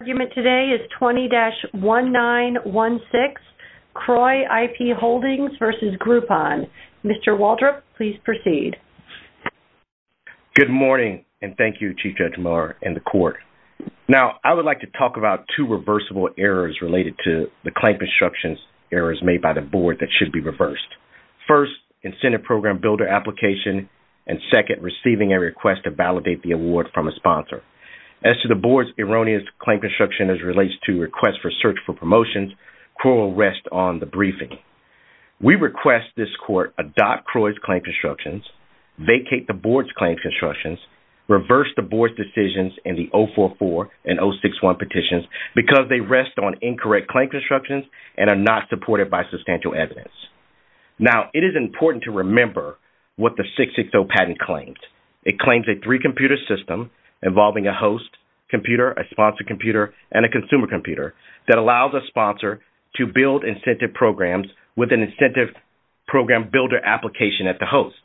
The argument today is 20-1916, Kroy IP Holdings v. Groupon. Mr. Waldrop, please proceed. Good morning, and thank you, Chief Judge Miller and the Court. Now, I would like to talk about two reversible errors related to the claim construction errors made by the Board that should be reversed. First, incentive program builder application, and second, receiving a request to validate the award from a sponsor. As to the Board's erroneous claim construction as it relates to requests for search for promotions, Kroy will rest on the briefing. We request this Court adopt Kroy's claim constructions, vacate the Board's claim constructions, reverse the Board's decisions in the 044 and 061 petitions because they rest on incorrect claim constructions and are not supported by substantial evidence. Now, it is important to remember what the 660 patent claims. First, it claims a three-computer system involving a host computer, a sponsor computer, and a consumer computer that allows a sponsor to build incentive programs with an incentive program builder application at the host.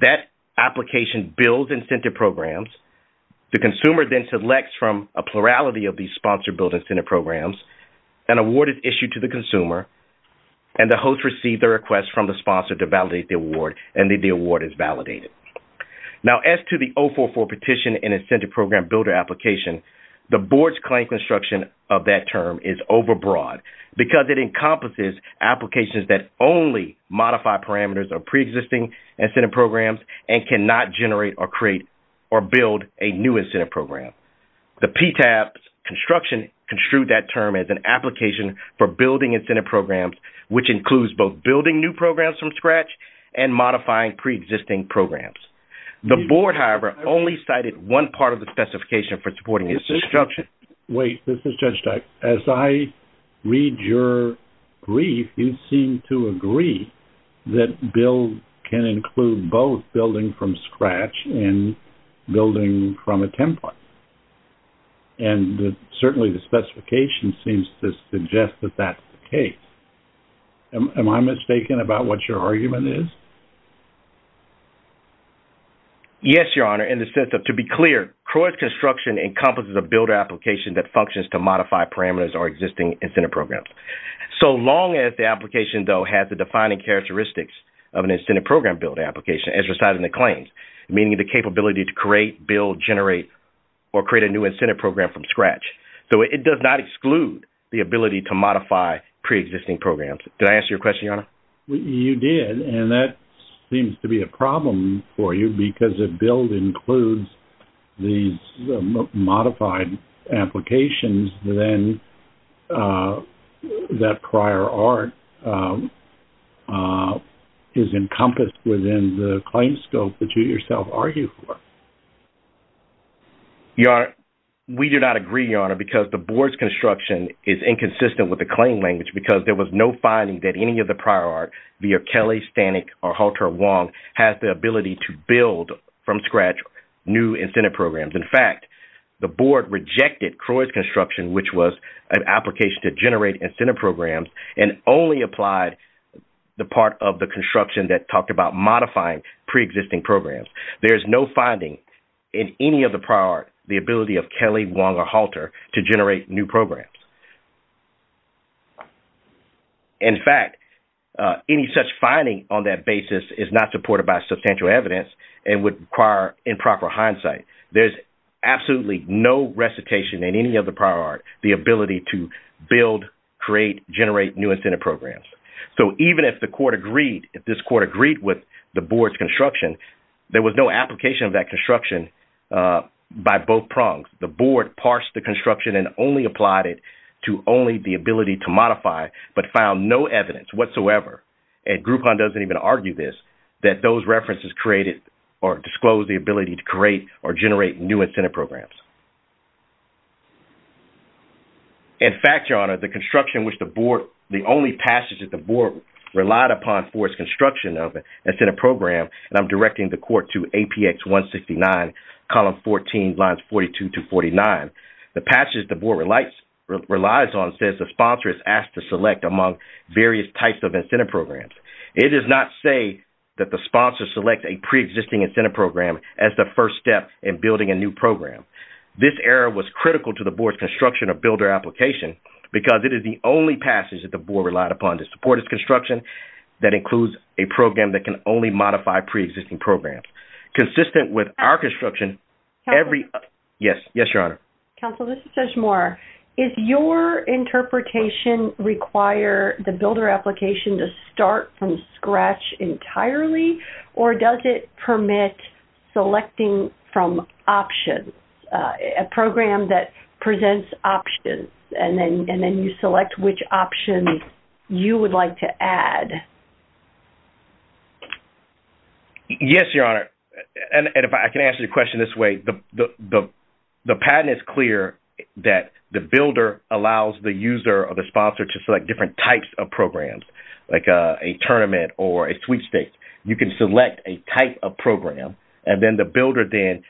That application builds incentive programs. The consumer then selects from a plurality of these sponsor-built incentive programs. An award is issued to the consumer, and the host receives a request from the sponsor to validate the award, and the award is validated. Now, as to the 044 petition and incentive program builder application, the Board's claim construction of that term is overbroad because it encompasses applications that only modify parameters of preexisting incentive programs and cannot generate or create or build a new incentive program. The PTAP's construction construed that term as an application for building incentive programs, which includes both building new programs from scratch and modifying preexisting programs. The Board, however, only cited one part of the specification for supporting its construction. Wait, this is Judge Dyck. As I read your brief, you seem to agree that build can include both building from scratch and building from a template, and certainly the specification seems to suggest that that's the case. Am I mistaken about what your argument is? Yes, Your Honor, in the sense of, to be clear, CROI's construction encompasses a builder application that functions to modify parameters or existing incentive programs. So long as the application, though, has the defining characteristics of an incentive program builder application, as recited in the claims, meaning the capability to create, build, generate, or create a new incentive program from scratch. So it does not exclude the ability to modify preexisting programs. Did I answer your question, Your Honor? You did, and that seems to be a problem for you because if build includes these modified applications, then that prior art is encompassed within the claims scope that you yourself argue for. Your Honor, we do not agree, Your Honor, because the board's construction is inconsistent with the claim language because there was no finding that any of the prior art, via Kelly, Stanek, or Halter, Wong, has the ability to build from scratch new incentive programs. In fact, the board rejected CROI's construction, which was an application to generate incentive programs, and only applied the part of the construction that talked about modifying preexisting programs. There is no finding in any of the prior art the ability of Kelly, Wong, or Halter to generate new programs. In fact, any such finding on that basis is not supported by substantial evidence and would require improper hindsight. There's absolutely no recitation in any of the prior art the ability to build, create, generate new incentive programs. So even if the court agreed, if this court agreed with the board's construction, there was no application of that construction by both prongs. The board parsed the construction and only applied it to only the ability to modify, but found no evidence whatsoever, and Groupon doesn't even argue this, that those references created or disclosed the ability to create or generate new incentive programs. In fact, Your Honor, the construction which the board, the only passage that the board relied upon for its construction of an incentive program, and I'm directing the court to APX 169, column 14, lines 42 to 49, the passage the board relies on says the sponsor is asked to select among various types of incentive programs. It does not say that the sponsor selects a preexisting incentive program as the first step in building a new program. This error was critical to the board's construction or builder application because it is the only passage that the board relied upon to support its construction that includes a program that can only modify preexisting programs. Consistent with our construction, every... Counselor? Yes. Yes, Your Honor. Counselor, this is Judge Moore. Does your interpretation require the builder application to start from scratch entirely, or does it permit selecting from options, a program that presents options, and then you select which option you would like to add? Yes, Your Honor. And if I can answer your question this way, the patent is clear that the builder allows the user or the sponsor to select different types of programs, like a tournament or a sweepstakes. You can select a type of program, and then the builder then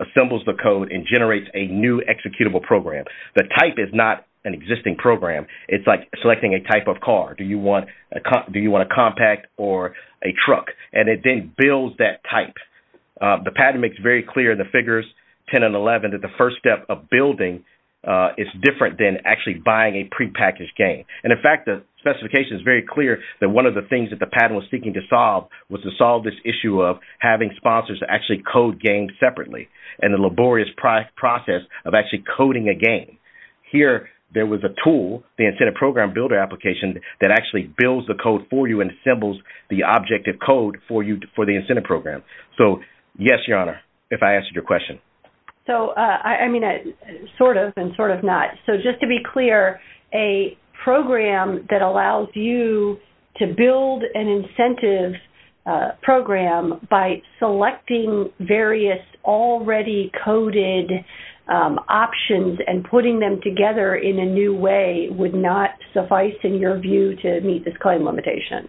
assembles the code and generates a new executable program. The type is not an existing program. It's like selecting a type of car. Do you want a compact or a truck? And it then builds that type. The patent makes very clear in the figures 10 and 11 that the first step of building is different than actually buying a prepackaged game. And, in fact, the specification is very clear that one of the things that the patent was seeking to solve was to solve this issue of having sponsors actually code games separately and the laborious process of actually coding a game. Here, there was a tool, the Incentive Program Builder application, that actually builds the code for you and assembles the objective code for the incentive program. So, yes, Your Honor, if I answered your question. So, I mean, sort of and sort of not. So, just to be clear, a program that allows you to build an incentive program by selecting various already coded options and putting them together in a new way would not suffice, in your view, to meet this claim limitation?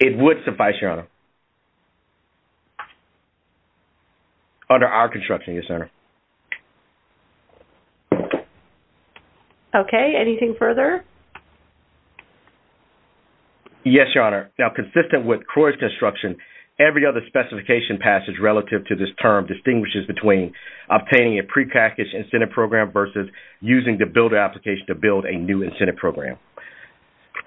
It would suffice, Your Honor. Under our construction, yes, Your Honor. Okay, anything further? Yes, Your Honor. Now, consistent with CROI's construction, every other specification passage relative to this term distinguishes between obtaining a prepackaged incentive program versus using the builder application to build a new incentive program.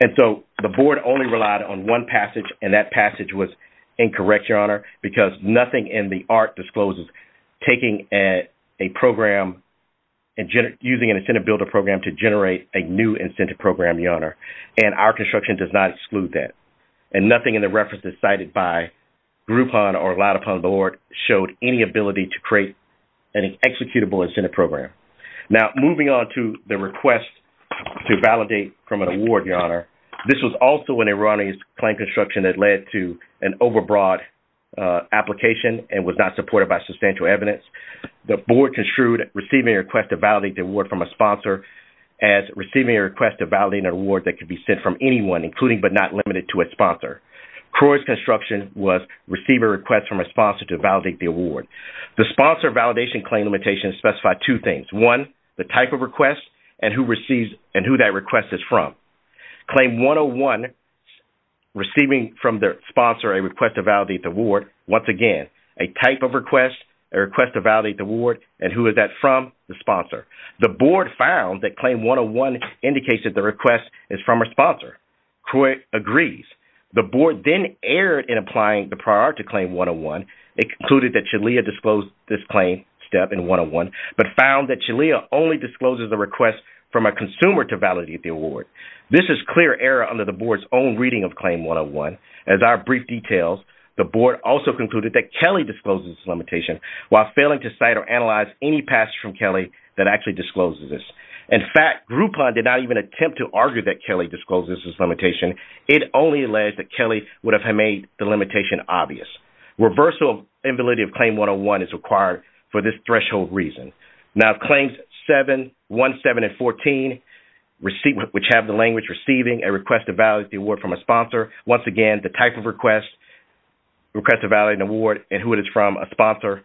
And so, the board only relied on one passage, and that passage was incorrect, Your Honor, because nothing in the art discloses taking a program and using an incentive builder program to generate a new incentive program, Your Honor, and our construction does not exclude that. And nothing in the references cited by Groupon or allowed upon the board showed any ability to create an executable incentive program. Now, moving on to the request to validate from an award, Your Honor, this was also an erroneous claim construction that led to an overbroad application and was not supported by substantial evidence. The board construed receiving a request to validate the award from a sponsor as receiving a request to validate an award that could be sent from anyone, including but not limited to a sponsor. CROI's construction was receiving a request from a sponsor to validate the award. The sponsor validation claim limitations specify two things. One, the type of request and who that request is from. Claim 101, receiving from the sponsor a request to validate the award, once again, a type of request, a request to validate the award, and who is that from? The sponsor. The board found that Claim 101 indicates that the request is from a sponsor. CROI agrees. The board then erred in applying the prior to Claim 101. It concluded that Chalia disclosed this claim step in 101 but found that Chalia only discloses the request from a consumer to validate the award. This is clear error under the board's own reading of Claim 101. As our brief details, the board also concluded that Kelly discloses this limitation while failing to cite or analyze any passage from Kelly that actually discloses this. In fact, Groupon did not even attempt to argue that Kelly discloses this limitation. It only alleged that Kelly would have made the limitation obvious. Reversal of invalidity of Claim 101 is required for this threshold reason. Now, if Claims 7, 1, 7, and 14, which have the language receiving a request to validate the award and who it is from a sponsor, once again, the type of request, request to validate an award, and who it is from a sponsor,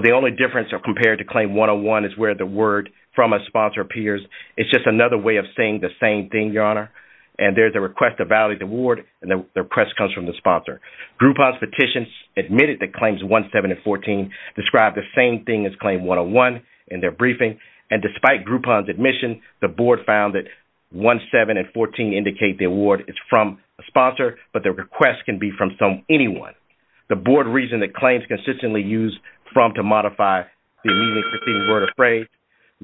the only difference compared to Claim 101 is where the word from a sponsor appears. It's just another way of saying the same thing, Your Honor, and there's a request to validate the award and the request comes from the sponsor. Groupon's petitions admitted that Claims 1, 7, and 14 described the same thing as Claim 101 in their briefing, and despite Groupon's admission, the board found that 1, 7, and 14 didn't indicate the award is from a sponsor, but the request can be from anyone. The board reasoned that Claims consistently used from to modify the immediately preceding word or phrase.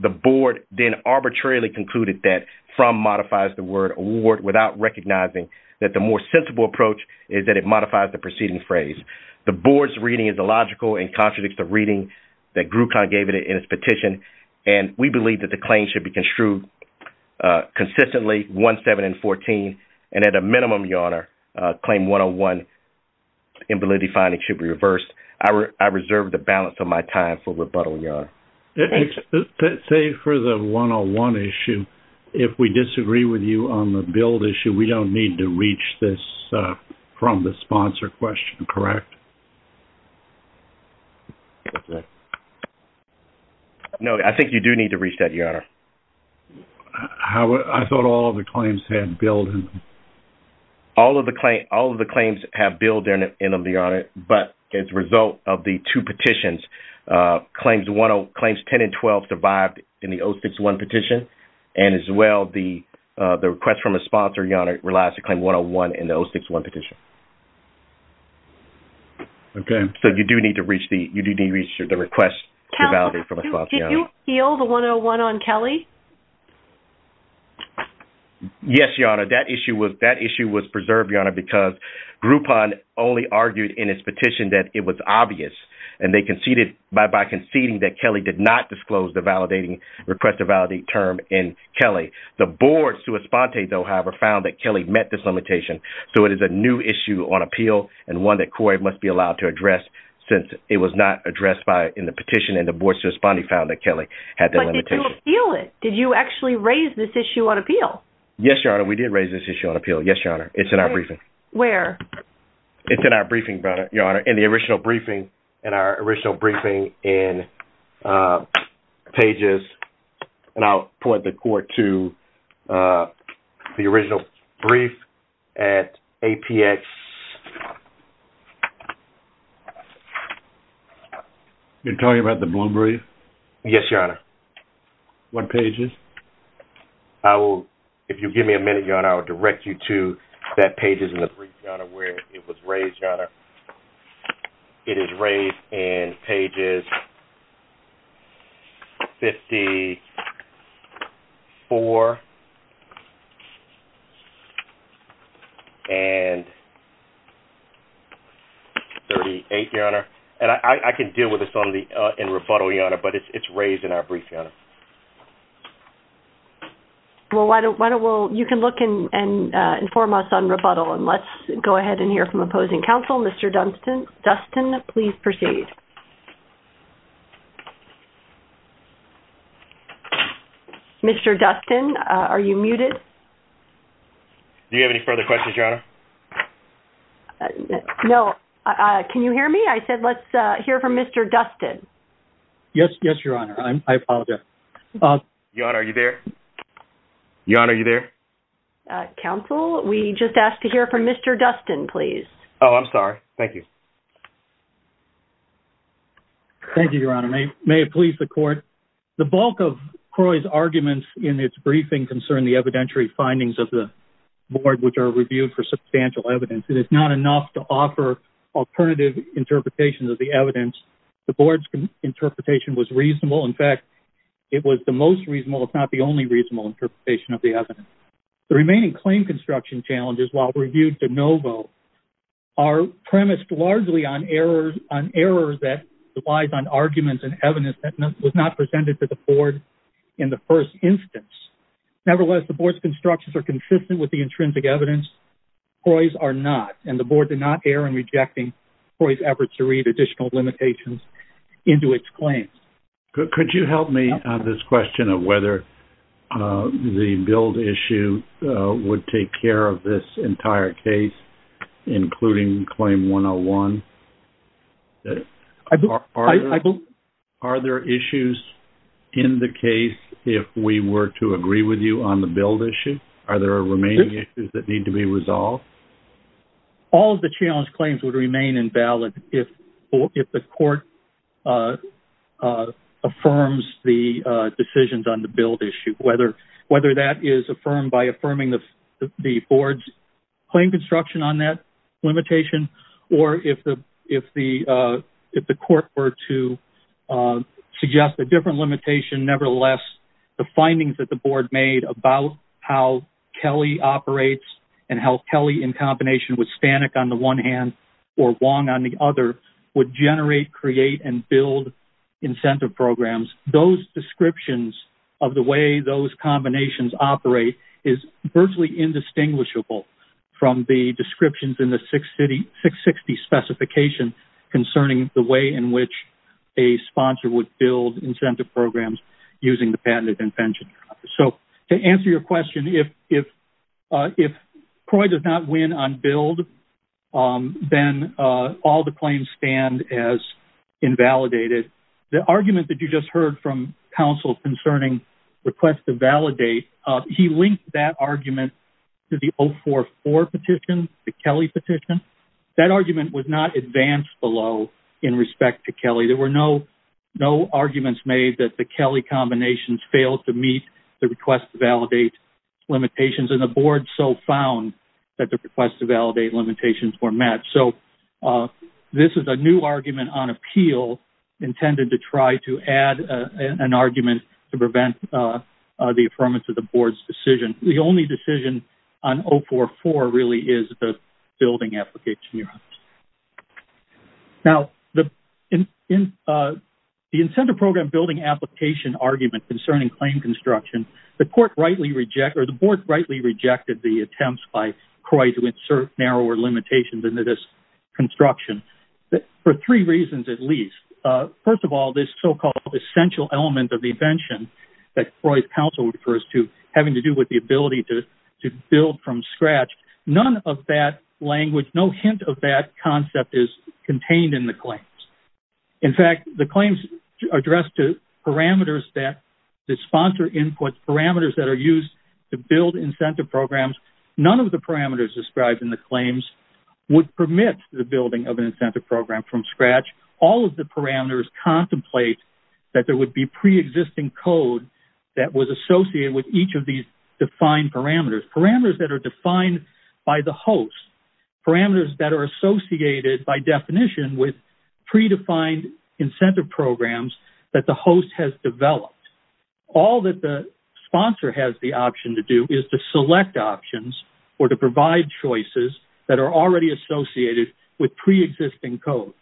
The board then arbitrarily concluded that from modifies the word award without recognizing that the more sensible approach is that it modifies the preceding phrase. The board's reading is illogical and contradicts the reading that Groupon gave in its petition, and we believe that the claims should be construed consistently, 1, 7, and 14, and at a minimum, Your Honor, Claim 101 in validity finding should be reversed. I reserve the balance of my time for rebuttal, Your Honor. Say for the 101 issue, if we disagree with you on the build issue, we don't need to reach this from the sponsor question, correct? No, I think you do need to reach that, Your Honor. I thought all of the claims had build in them. All of the claims have build in them, Your Honor, but as a result of the two petitions, Claims 10 and 12 survived in the 061 petition, and as well, the request from a sponsor, Your Honor, relies to Claim 101 in the 061 petition. Okay. to validate from a sponsor, Your Honor. Did you appeal the 101 on Kelly? Yes, Your Honor. That issue was preserved, Your Honor, because Groupon only argued in its petition that it was obvious, and they conceded by conceding that Kelly did not disclose the request to validate term in Kelly. The board, however, found that Kelly met this limitation, so it is a new issue on appeal and one that CORE must be allowed to address since it was not addressed in the petition, and the board's responding found that Kelly had that limitation. But did you appeal it? Did you actually raise this issue on appeal? Yes, Your Honor. We did raise this issue on appeal. Yes, Your Honor. It's in our briefing. Where? It's in our briefing, Your Honor, in the original briefing, in our original briefing in pages, and I'll point the CORE to the original brief at APX. You're talking about the Bloom brief? Yes, Your Honor. What pages? I will, if you'll give me a minute, Your Honor, I will direct you to that page in the brief, Your Honor, where it was raised, Your Honor. It is raised in pages 54 and 56. 38, Your Honor. And I can deal with this in rebuttal, Your Honor, but it's raised in our brief, Your Honor. Well, you can look and inform us on rebuttal, and let's go ahead and hear from opposing counsel. Mr. Dustin, please proceed. Mr. Dustin, are you muted? Do you have any further questions, Your Honor? No. Can you hear me? I said let's hear from Mr. Dustin. Yes, Your Honor. I apologize. Your Honor, are you there? Your Honor, are you there? Counsel, we just asked to hear from Mr. Dustin, please. Oh, I'm sorry. Thank you. Thank you, Your Honor. May it please the court, the bulk of CROI's arguments in its briefing concern the evidentiary findings of the board, which are reviewed for substantial evidence. It is not enough to offer alternative interpretations of the evidence. The board's interpretation was reasonable. In fact, it was the most reasonable, if not the only reasonable interpretation of the evidence. The remaining claim construction challenges, while reviewed de novo, are premised largely on errors that relies on arguments and evidence that was not presented to the board in the first instance. Nevertheless, the board's constructions are consistent with the intrinsic evidence. CROI's are not, and the board did not err in rejecting CROI's efforts to read additional limitations into its claims. Could you help me on this question of whether the billed issue would take care of this entire case, including claim 101? Are there issues in the case, if we were to agree with you on the billed issue? Are there remaining issues that need to be resolved? All of the challenge claims would remain invalid if the court affirms the decisions on the billed issue, whether that is affirmed by affirming the board's claim construction on that limitation, or if the court were to suggest a different limitation, nevertheless, the findings that the board made about how Kelly operates and how Kelly, in combination with Stanek on the one hand or Wong on the other, would generate, create and build incentive programs. Those descriptions of the way those combinations operate is virtually indistinguishable from the descriptions in the six city, six 60 specification, concerning the way in which a sponsor would build incentive programs using the patented intention. So to answer your question, if, if, uh, if CROI does not win on build, um, then, uh, all the claims stand as invalidated. The argument that you just heard from counsel concerning request to validate, uh, he linked that argument to the old four, four petition, the Kelly petition that argument was not advanced below in respect to Kelly. There were no, no arguments made that the Kelly combinations failed to meet the request to validate limitations. And the board so found that the request to validate limitations were met. So, uh, this is a new argument on appeal intended to try to add an argument to the board's decision. The only decision on Oh four, four really is the building application. Now the in, in, uh, the incentive program building application argument concerning claim construction, the court rightly reject, or the board rightly rejected the attempts by CROI to insert narrower limitations into this construction for three reasons, at least, uh, first of all, this so-called essential element of the invention that CROI council refers to having to do with the ability to, to build from scratch. None of that language, no hint of that concept is contained in the claims. In fact, the claims are addressed to parameters that the sponsor input parameters that are used to build incentive programs. None of the parameters described in the claims would permit the building of an incentive program from scratch. All of the parameters contemplate that there would be preexisting code that was associated with each of these defined parameters, parameters that are defined by the host parameters that are associated by definition with predefined incentive programs that the host has developed. All that the sponsor has the option to do is to select options or to provide choices that are already associated with preexisting code.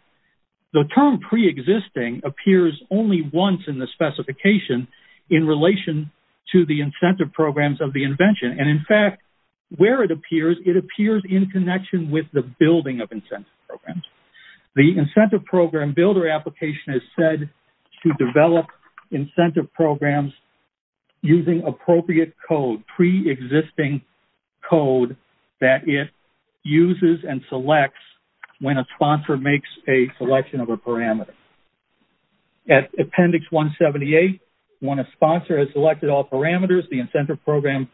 The term preexisting appears only once in the specification in relation to the incentive programs of the invention. And in fact, where it appears it appears in connection with the building of incentive programs. The incentive program builder application is said to develop incentive programs using appropriate code, preexisting code that it uses and selects when a sponsor makes a, a selection of a parameter. At appendix one 78, when a sponsor has selected all parameters, the incentive program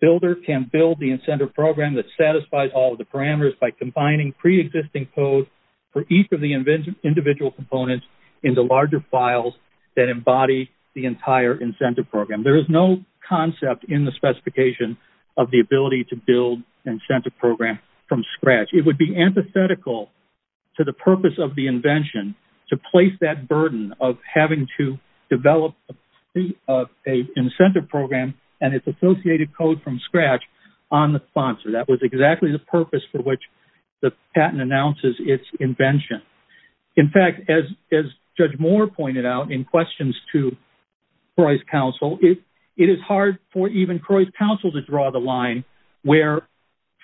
builder can build the incentive program that satisfies all of the parameters by combining preexisting code for each of the individual components in the larger files that embody the entire incentive program. There is no concept in the specification of the ability to build incentive program from scratch. It would be antithetical to the purpose of the invention to place that burden of having to develop a incentive program and it's associated code from scratch on the sponsor. That was exactly the purpose for which the patent announces its invention. In fact, as, as judge Moore pointed out in questions to price counsel, it is hard for even Croy's counsel to draw the line where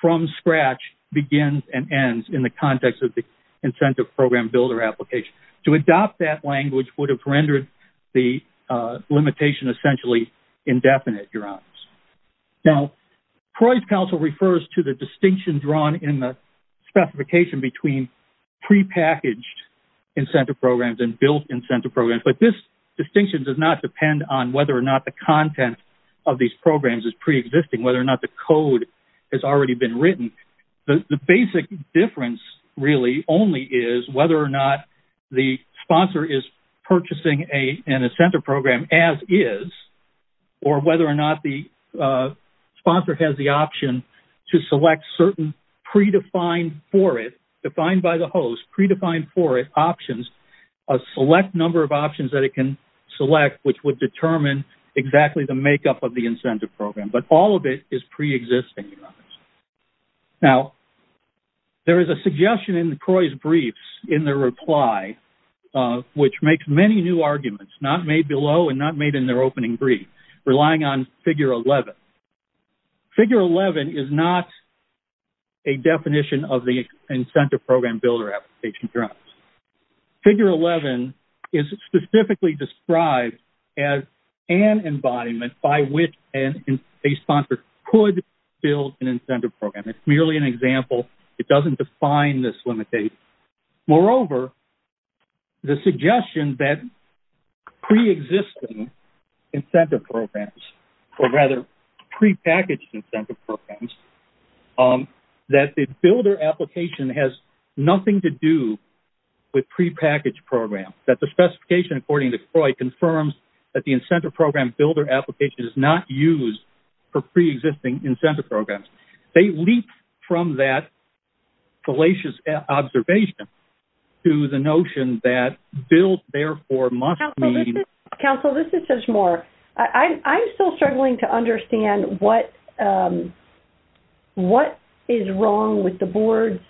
from scratch begins and ends in the context of the incentive program builder application to adopt that language would have rendered the limitation essentially indefinite. You're on now. Price counsel refers to the distinction drawn in the specification between pre-packaged incentive programs and built incentive programs. But this distinction does not depend on whether or not the content of these programs is preexisting, whether or not the code has already been written. The basic difference really only is whether or not the sponsor is purchasing a, and a center program as is, or whether or not the sponsor has the option to select certain predefined for it defined by the host predefined for it options, a select number of options that it can select, which would determine exactly the makeup of the incentive program. But all of it is preexisting. Now there is a suggestion in the Croy's briefs in the reply, which makes many new arguments, not made below and not made in their opening brief, relying on figure 11, figure 11 is not a definition of the incentive program builder application. Figure 11 is specifically described as an embodiment by which a sponsor could build an incentive program. It's merely an example. It doesn't define this limit date. Moreover, the suggestion that preexisting incentive programs, or rather pre-packaged incentive programs, that the builder application has nothing to do with pre-packaged program, that the specification, according to Croy confirms that the incentive program builder application is not used for preexisting incentive programs. They leap from that fallacious observation to the notion that built, therefore must mean. Council, this is Judge Moore. I'm still struggling to understand what is wrong with the board's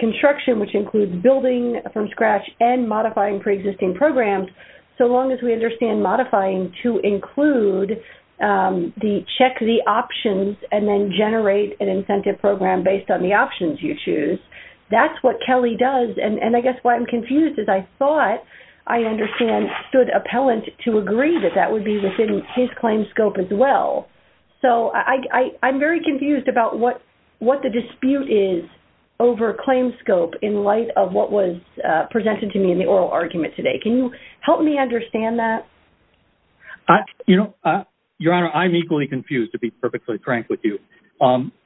construction, which includes building from scratch and modifying preexisting programs. So long as we understand modifying to include the check, the options, and then generate an incentive program based on the options you choose. That's what Kelly does. And I guess why I'm confused is I thought I understand stood appellant to agree that that would be within his claims scope as well. So I, I I'm very confused about what, what the dispute is over claims scope in light of what was presented to me in the oral argument today. Can you help me understand that? You know, your honor, I'm equally confused to be perfectly frank with you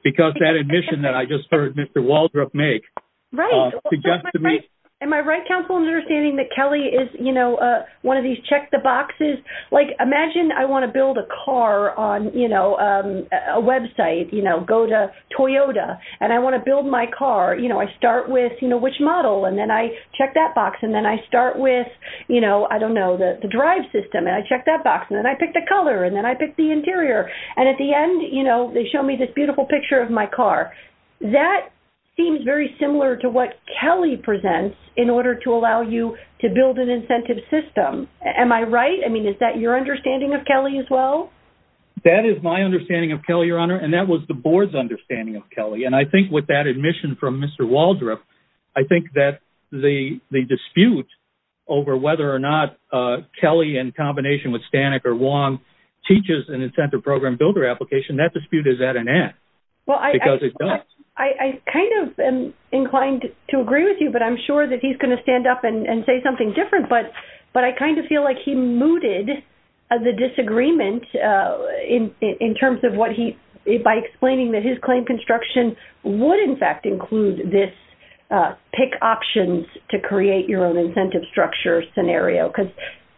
because that admission that I just heard Mr. Right. Am I right? Counseling understanding that Kelly is, you know, one of these check the boxes, like imagine I want to build a car on, you know, a website, you know, go to Toyota and I want to build my car. You know, I start with, you know, which model. And then I check that box. And then I start with, you know, I don't know the drive system. And I checked that box and then I picked the color and then I picked the interior. And at the end, you know, they show me this beautiful picture of my car. That seems very similar to what Kelly presents in order to allow you to build an incentive system. Am I right? I mean, is that your understanding of Kelly as well? That is my understanding of Kelly, your honor. And that was the board's understanding of Kelly. And I think with that admission from Mr. Waldrop, I think that the, the dispute over whether or not Kelly and combination with Stanek or Wong teaches an incentive program builder application. That dispute is at an end. Well, I kind of am inclined to agree with you, but I'm sure that he's going to stand up and say something different, but, but I kind of feel like he mooted the disagreement in, in terms of what he, by explaining that his claim construction would in fact include this pick options to create your own incentive structure scenario, because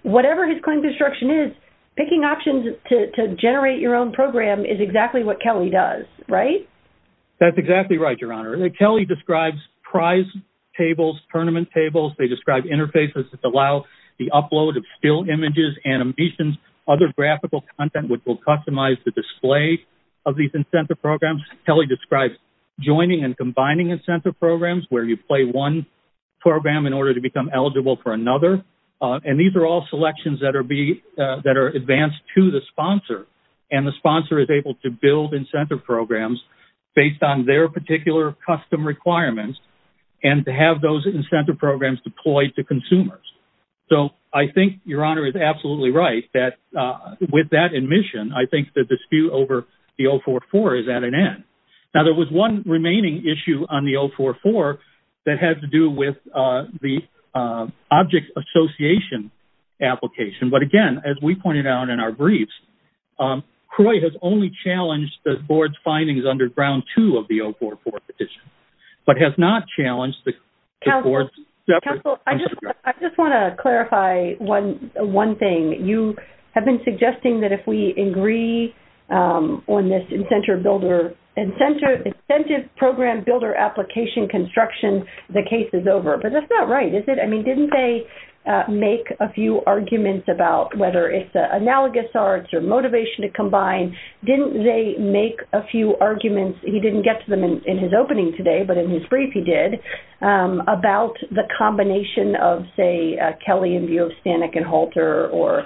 whatever his claim construction is, Picking options to generate your own program is exactly what Kelly does. Right? That's exactly right. Your honor. Kelly describes prize tables, tournament tables. They describe interfaces that allow the upload of still images and ambitions, other graphical content, which will customize the display of these incentive programs. Kelly describes joining and combining incentive programs where you play one program in order to become eligible for another. And these are all selections that are B that are advanced to the sponsor. And the sponsor is able to build incentive programs based on their particular custom requirements and to have those incentive programs deployed to consumers. So I think your honor is absolutely right. That with that admission, I think that dispute over the old four, four is at an end. Now there was one remaining issue on the old four, four that has to do with the object association application. But again, as we pointed out in our briefs, Croy has only challenged the board's findings under brown two of the old four, four petition, but has not challenged the board. I just want to clarify one, one thing you have been suggesting that if we agree on this incentive builder and center incentive program, builder application construction, the case is over, but that's not right. Is it? I mean, didn't they make a few arguments about whether it's analogous arts or motivation to combine? Didn't they make a few arguments? He didn't get to them in his opening today, but in his brief he did about the combination of say Kelly and view of Stanek and halter or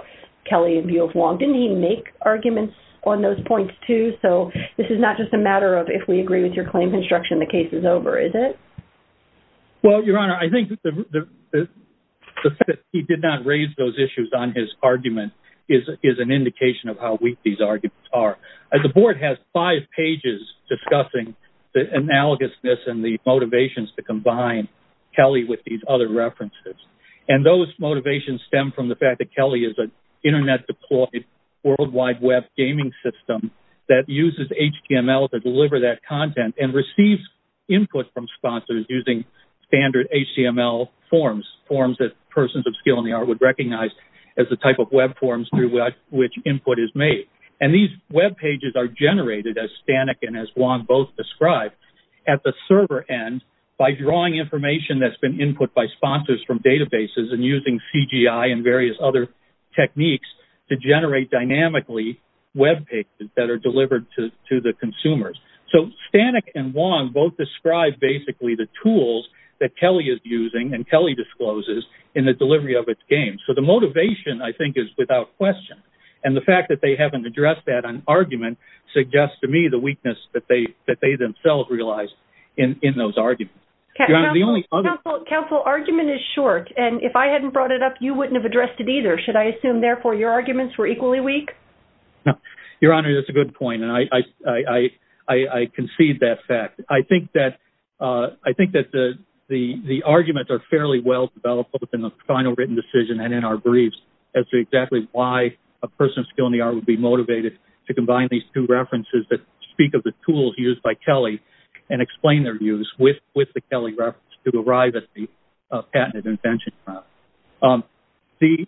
Kelly and view of long. Didn't he make arguments on those points too? So this is not just a matter of if we agree with your claim construction, the case is over. Is it? Well, your honor, I think the fact that he did not raise those issues on his argument is, is an indication of how weak these arguments are. As the board has five pages discussing the analogous, this and the motivations to combine Kelly with these other references. And those motivations stem from the fact that Kelly is an internet deployed worldwide web gaming system that uses HTML to deliver that content and receives input from sponsors using standard HTML forms, forms that persons of skill in the art would recognize as the type of web forms through which input is made. And these web pages are generated as Stanek. And as Juan both described at the server end by drawing information, that's been input by sponsors from databases and using CGI and various other techniques to generate dynamically web pages that are delivered to the consumers. So Stanek and Juan both described basically the tools that Kelly is using and Kelly discloses in the delivery of its game. So the motivation I think is without question. And the fact that they haven't addressed that on argument suggests to me the weakness that they, that they themselves realized in those arguments. Counsel, counsel argument is short. And if I hadn't brought it up, you wouldn't have addressed it either. Should I assume therefore your arguments were equally weak? No, your honor, that's a good point. And I, I, I, I concede that fact. I think that I think that the, the, the arguments are fairly well developed within the final written decision and in our briefs as to exactly why a person of skill in the art would be motivated to combine these two references that speak of the tools used by Kelly and explain their views with, with the Kelly reference to arrive at the patented invention. The,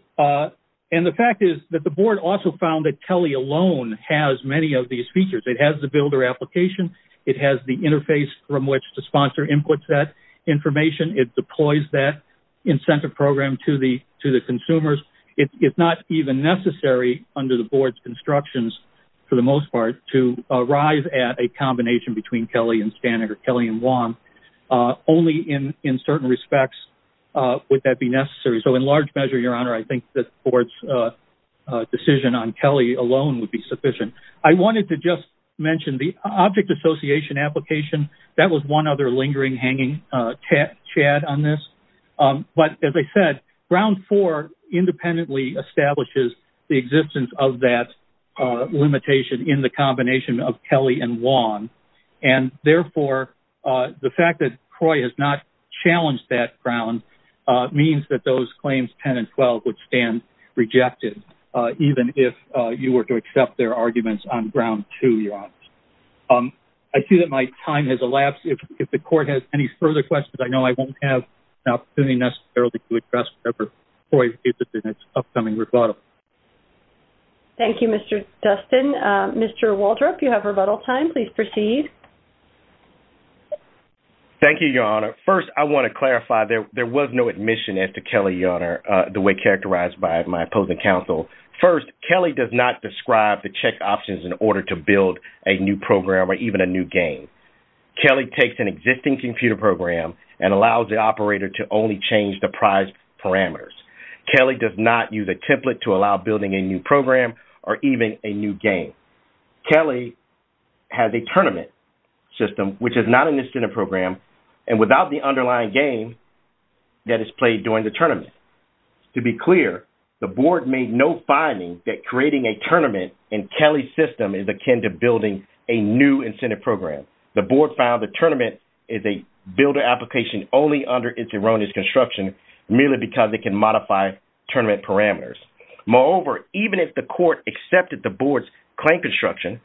and the fact is that the board also found that Kelly alone has many of these features. It has the builder application. It has the interface from which the sponsor inputs that information. It deploys that incentive program to the, to the consumers. It's not even necessary under the board's constructions for the most part to arrive at a combination between Kelly and standard or Kelly and one only in, in certain respects. Would that be necessary? So in large measure, your honor, I think that the board's decision on Kelly alone would be sufficient. I wanted to just mention the object association application. That was one other lingering hanging chat chat on this. But as I said, round four independently establishes the existence of that limitation in the combination of Kelly and one. And therefore the fact that Croy has not challenged that ground, uh, means that those claims 10 and 12 would stand rejected. Uh, even if, uh, you were to accept their arguments on ground to your office. Um, I see that my time has elapsed. If, if the court has any further questions, I know I won't have an opportunity necessarily to address it in its upcoming rebuttal. Thank you, Mr. Dustin, Mr. Waldrop, you have rebuttal time, please proceed. Thank you, your honor. First, I want to clarify there. There was no admission as to Kelly, your honor, uh, the way characterized by my opposing counsel. First, Kelly does not describe the check options in order to build a new program or even a new game. Kelly takes an existing computer program and allows the operator to only change the prize parameters. Kelly does not use a template to allow building a new program or even a new game. Kelly has a tournament system, which is not an incentive program and without the underlying game that is played during the tournament. To be clear, the board made no finding that creating a tournament and Kelly system is akin to building a new incentive program. The board found the tournament is a builder application only under its erroneous construction merely because they can modify tournament parameters. Moreover, even if the court accepted the board's claim construction,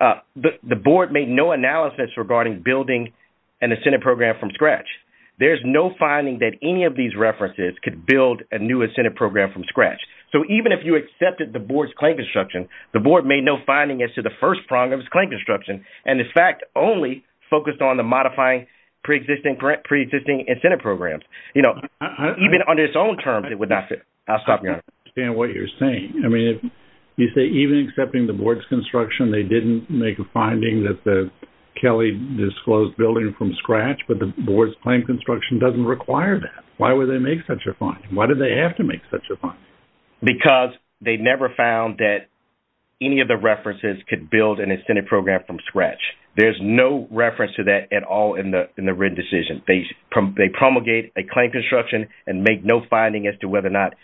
uh, the board made no analysis regarding building an incentive program from scratch. There's no finding that any of these references could build a new incentive program from scratch. So even if you accepted the board's claim construction, the board made no finding as to the first prong of his claim construction. And in fact, only focused on the modifying preexisting, preexisting incentive programs, you know, even under its own terms, it would not fit. I'll stop you. I understand what you're saying. I mean, you say even accepting the board's construction, they didn't make a finding that the Kelly disclosed building from scratch, but the board's claim construction doesn't require that. Why would they make such a fine? Why did they have to make such a fine? Because they never found that any of the references could build an incentive program from scratch. There's no reference to that at all. In the, in the written decision, they prom they promulgate a claim construction and make no finding as to whether or not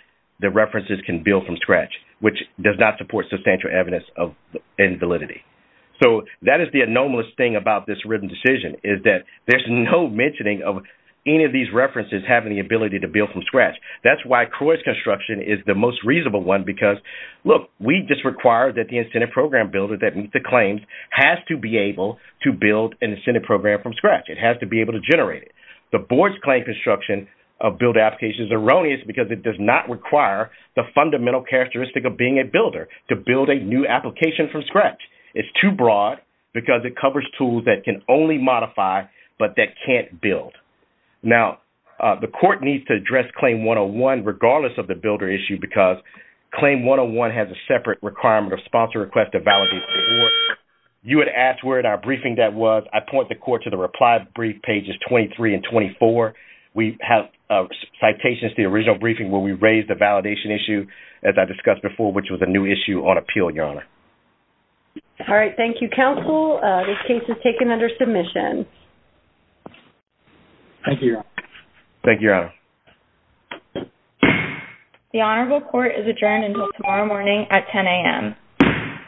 the references can build from scratch, which does not support substantial evidence of invalidity. So that is the anomalous thing about this written decision is that there's no mentioning of any of these references, having the ability to build from scratch. That's why Croy's construction is the most reasonable one, because look, we just require that the incentive program builder that meets the claims has to be able to build an incentive program from scratch. It has to be able to generate it. The board's claim construction of build applications are erroneous because it does not require the fundamental characteristic of being a builder to build a new application from scratch. It's too broad because it covers tools that can only modify, but that can't build. Now the court needs to address claim one-on-one, regardless of the builder issue, because claim one-on-one has a separate requirement of sponsor request to validate. You would ask where in our briefing that was. I point the court to the reply brief pages 23 and 24. We have citations, the original briefing where we raised the validation issue, as I discussed before, which was a new issue on appeal, your honor. All right. Thank you, counsel. This case is taken under submission. Thank you. Thank you. The honorable court is adjourned until tomorrow morning at 10 a.m.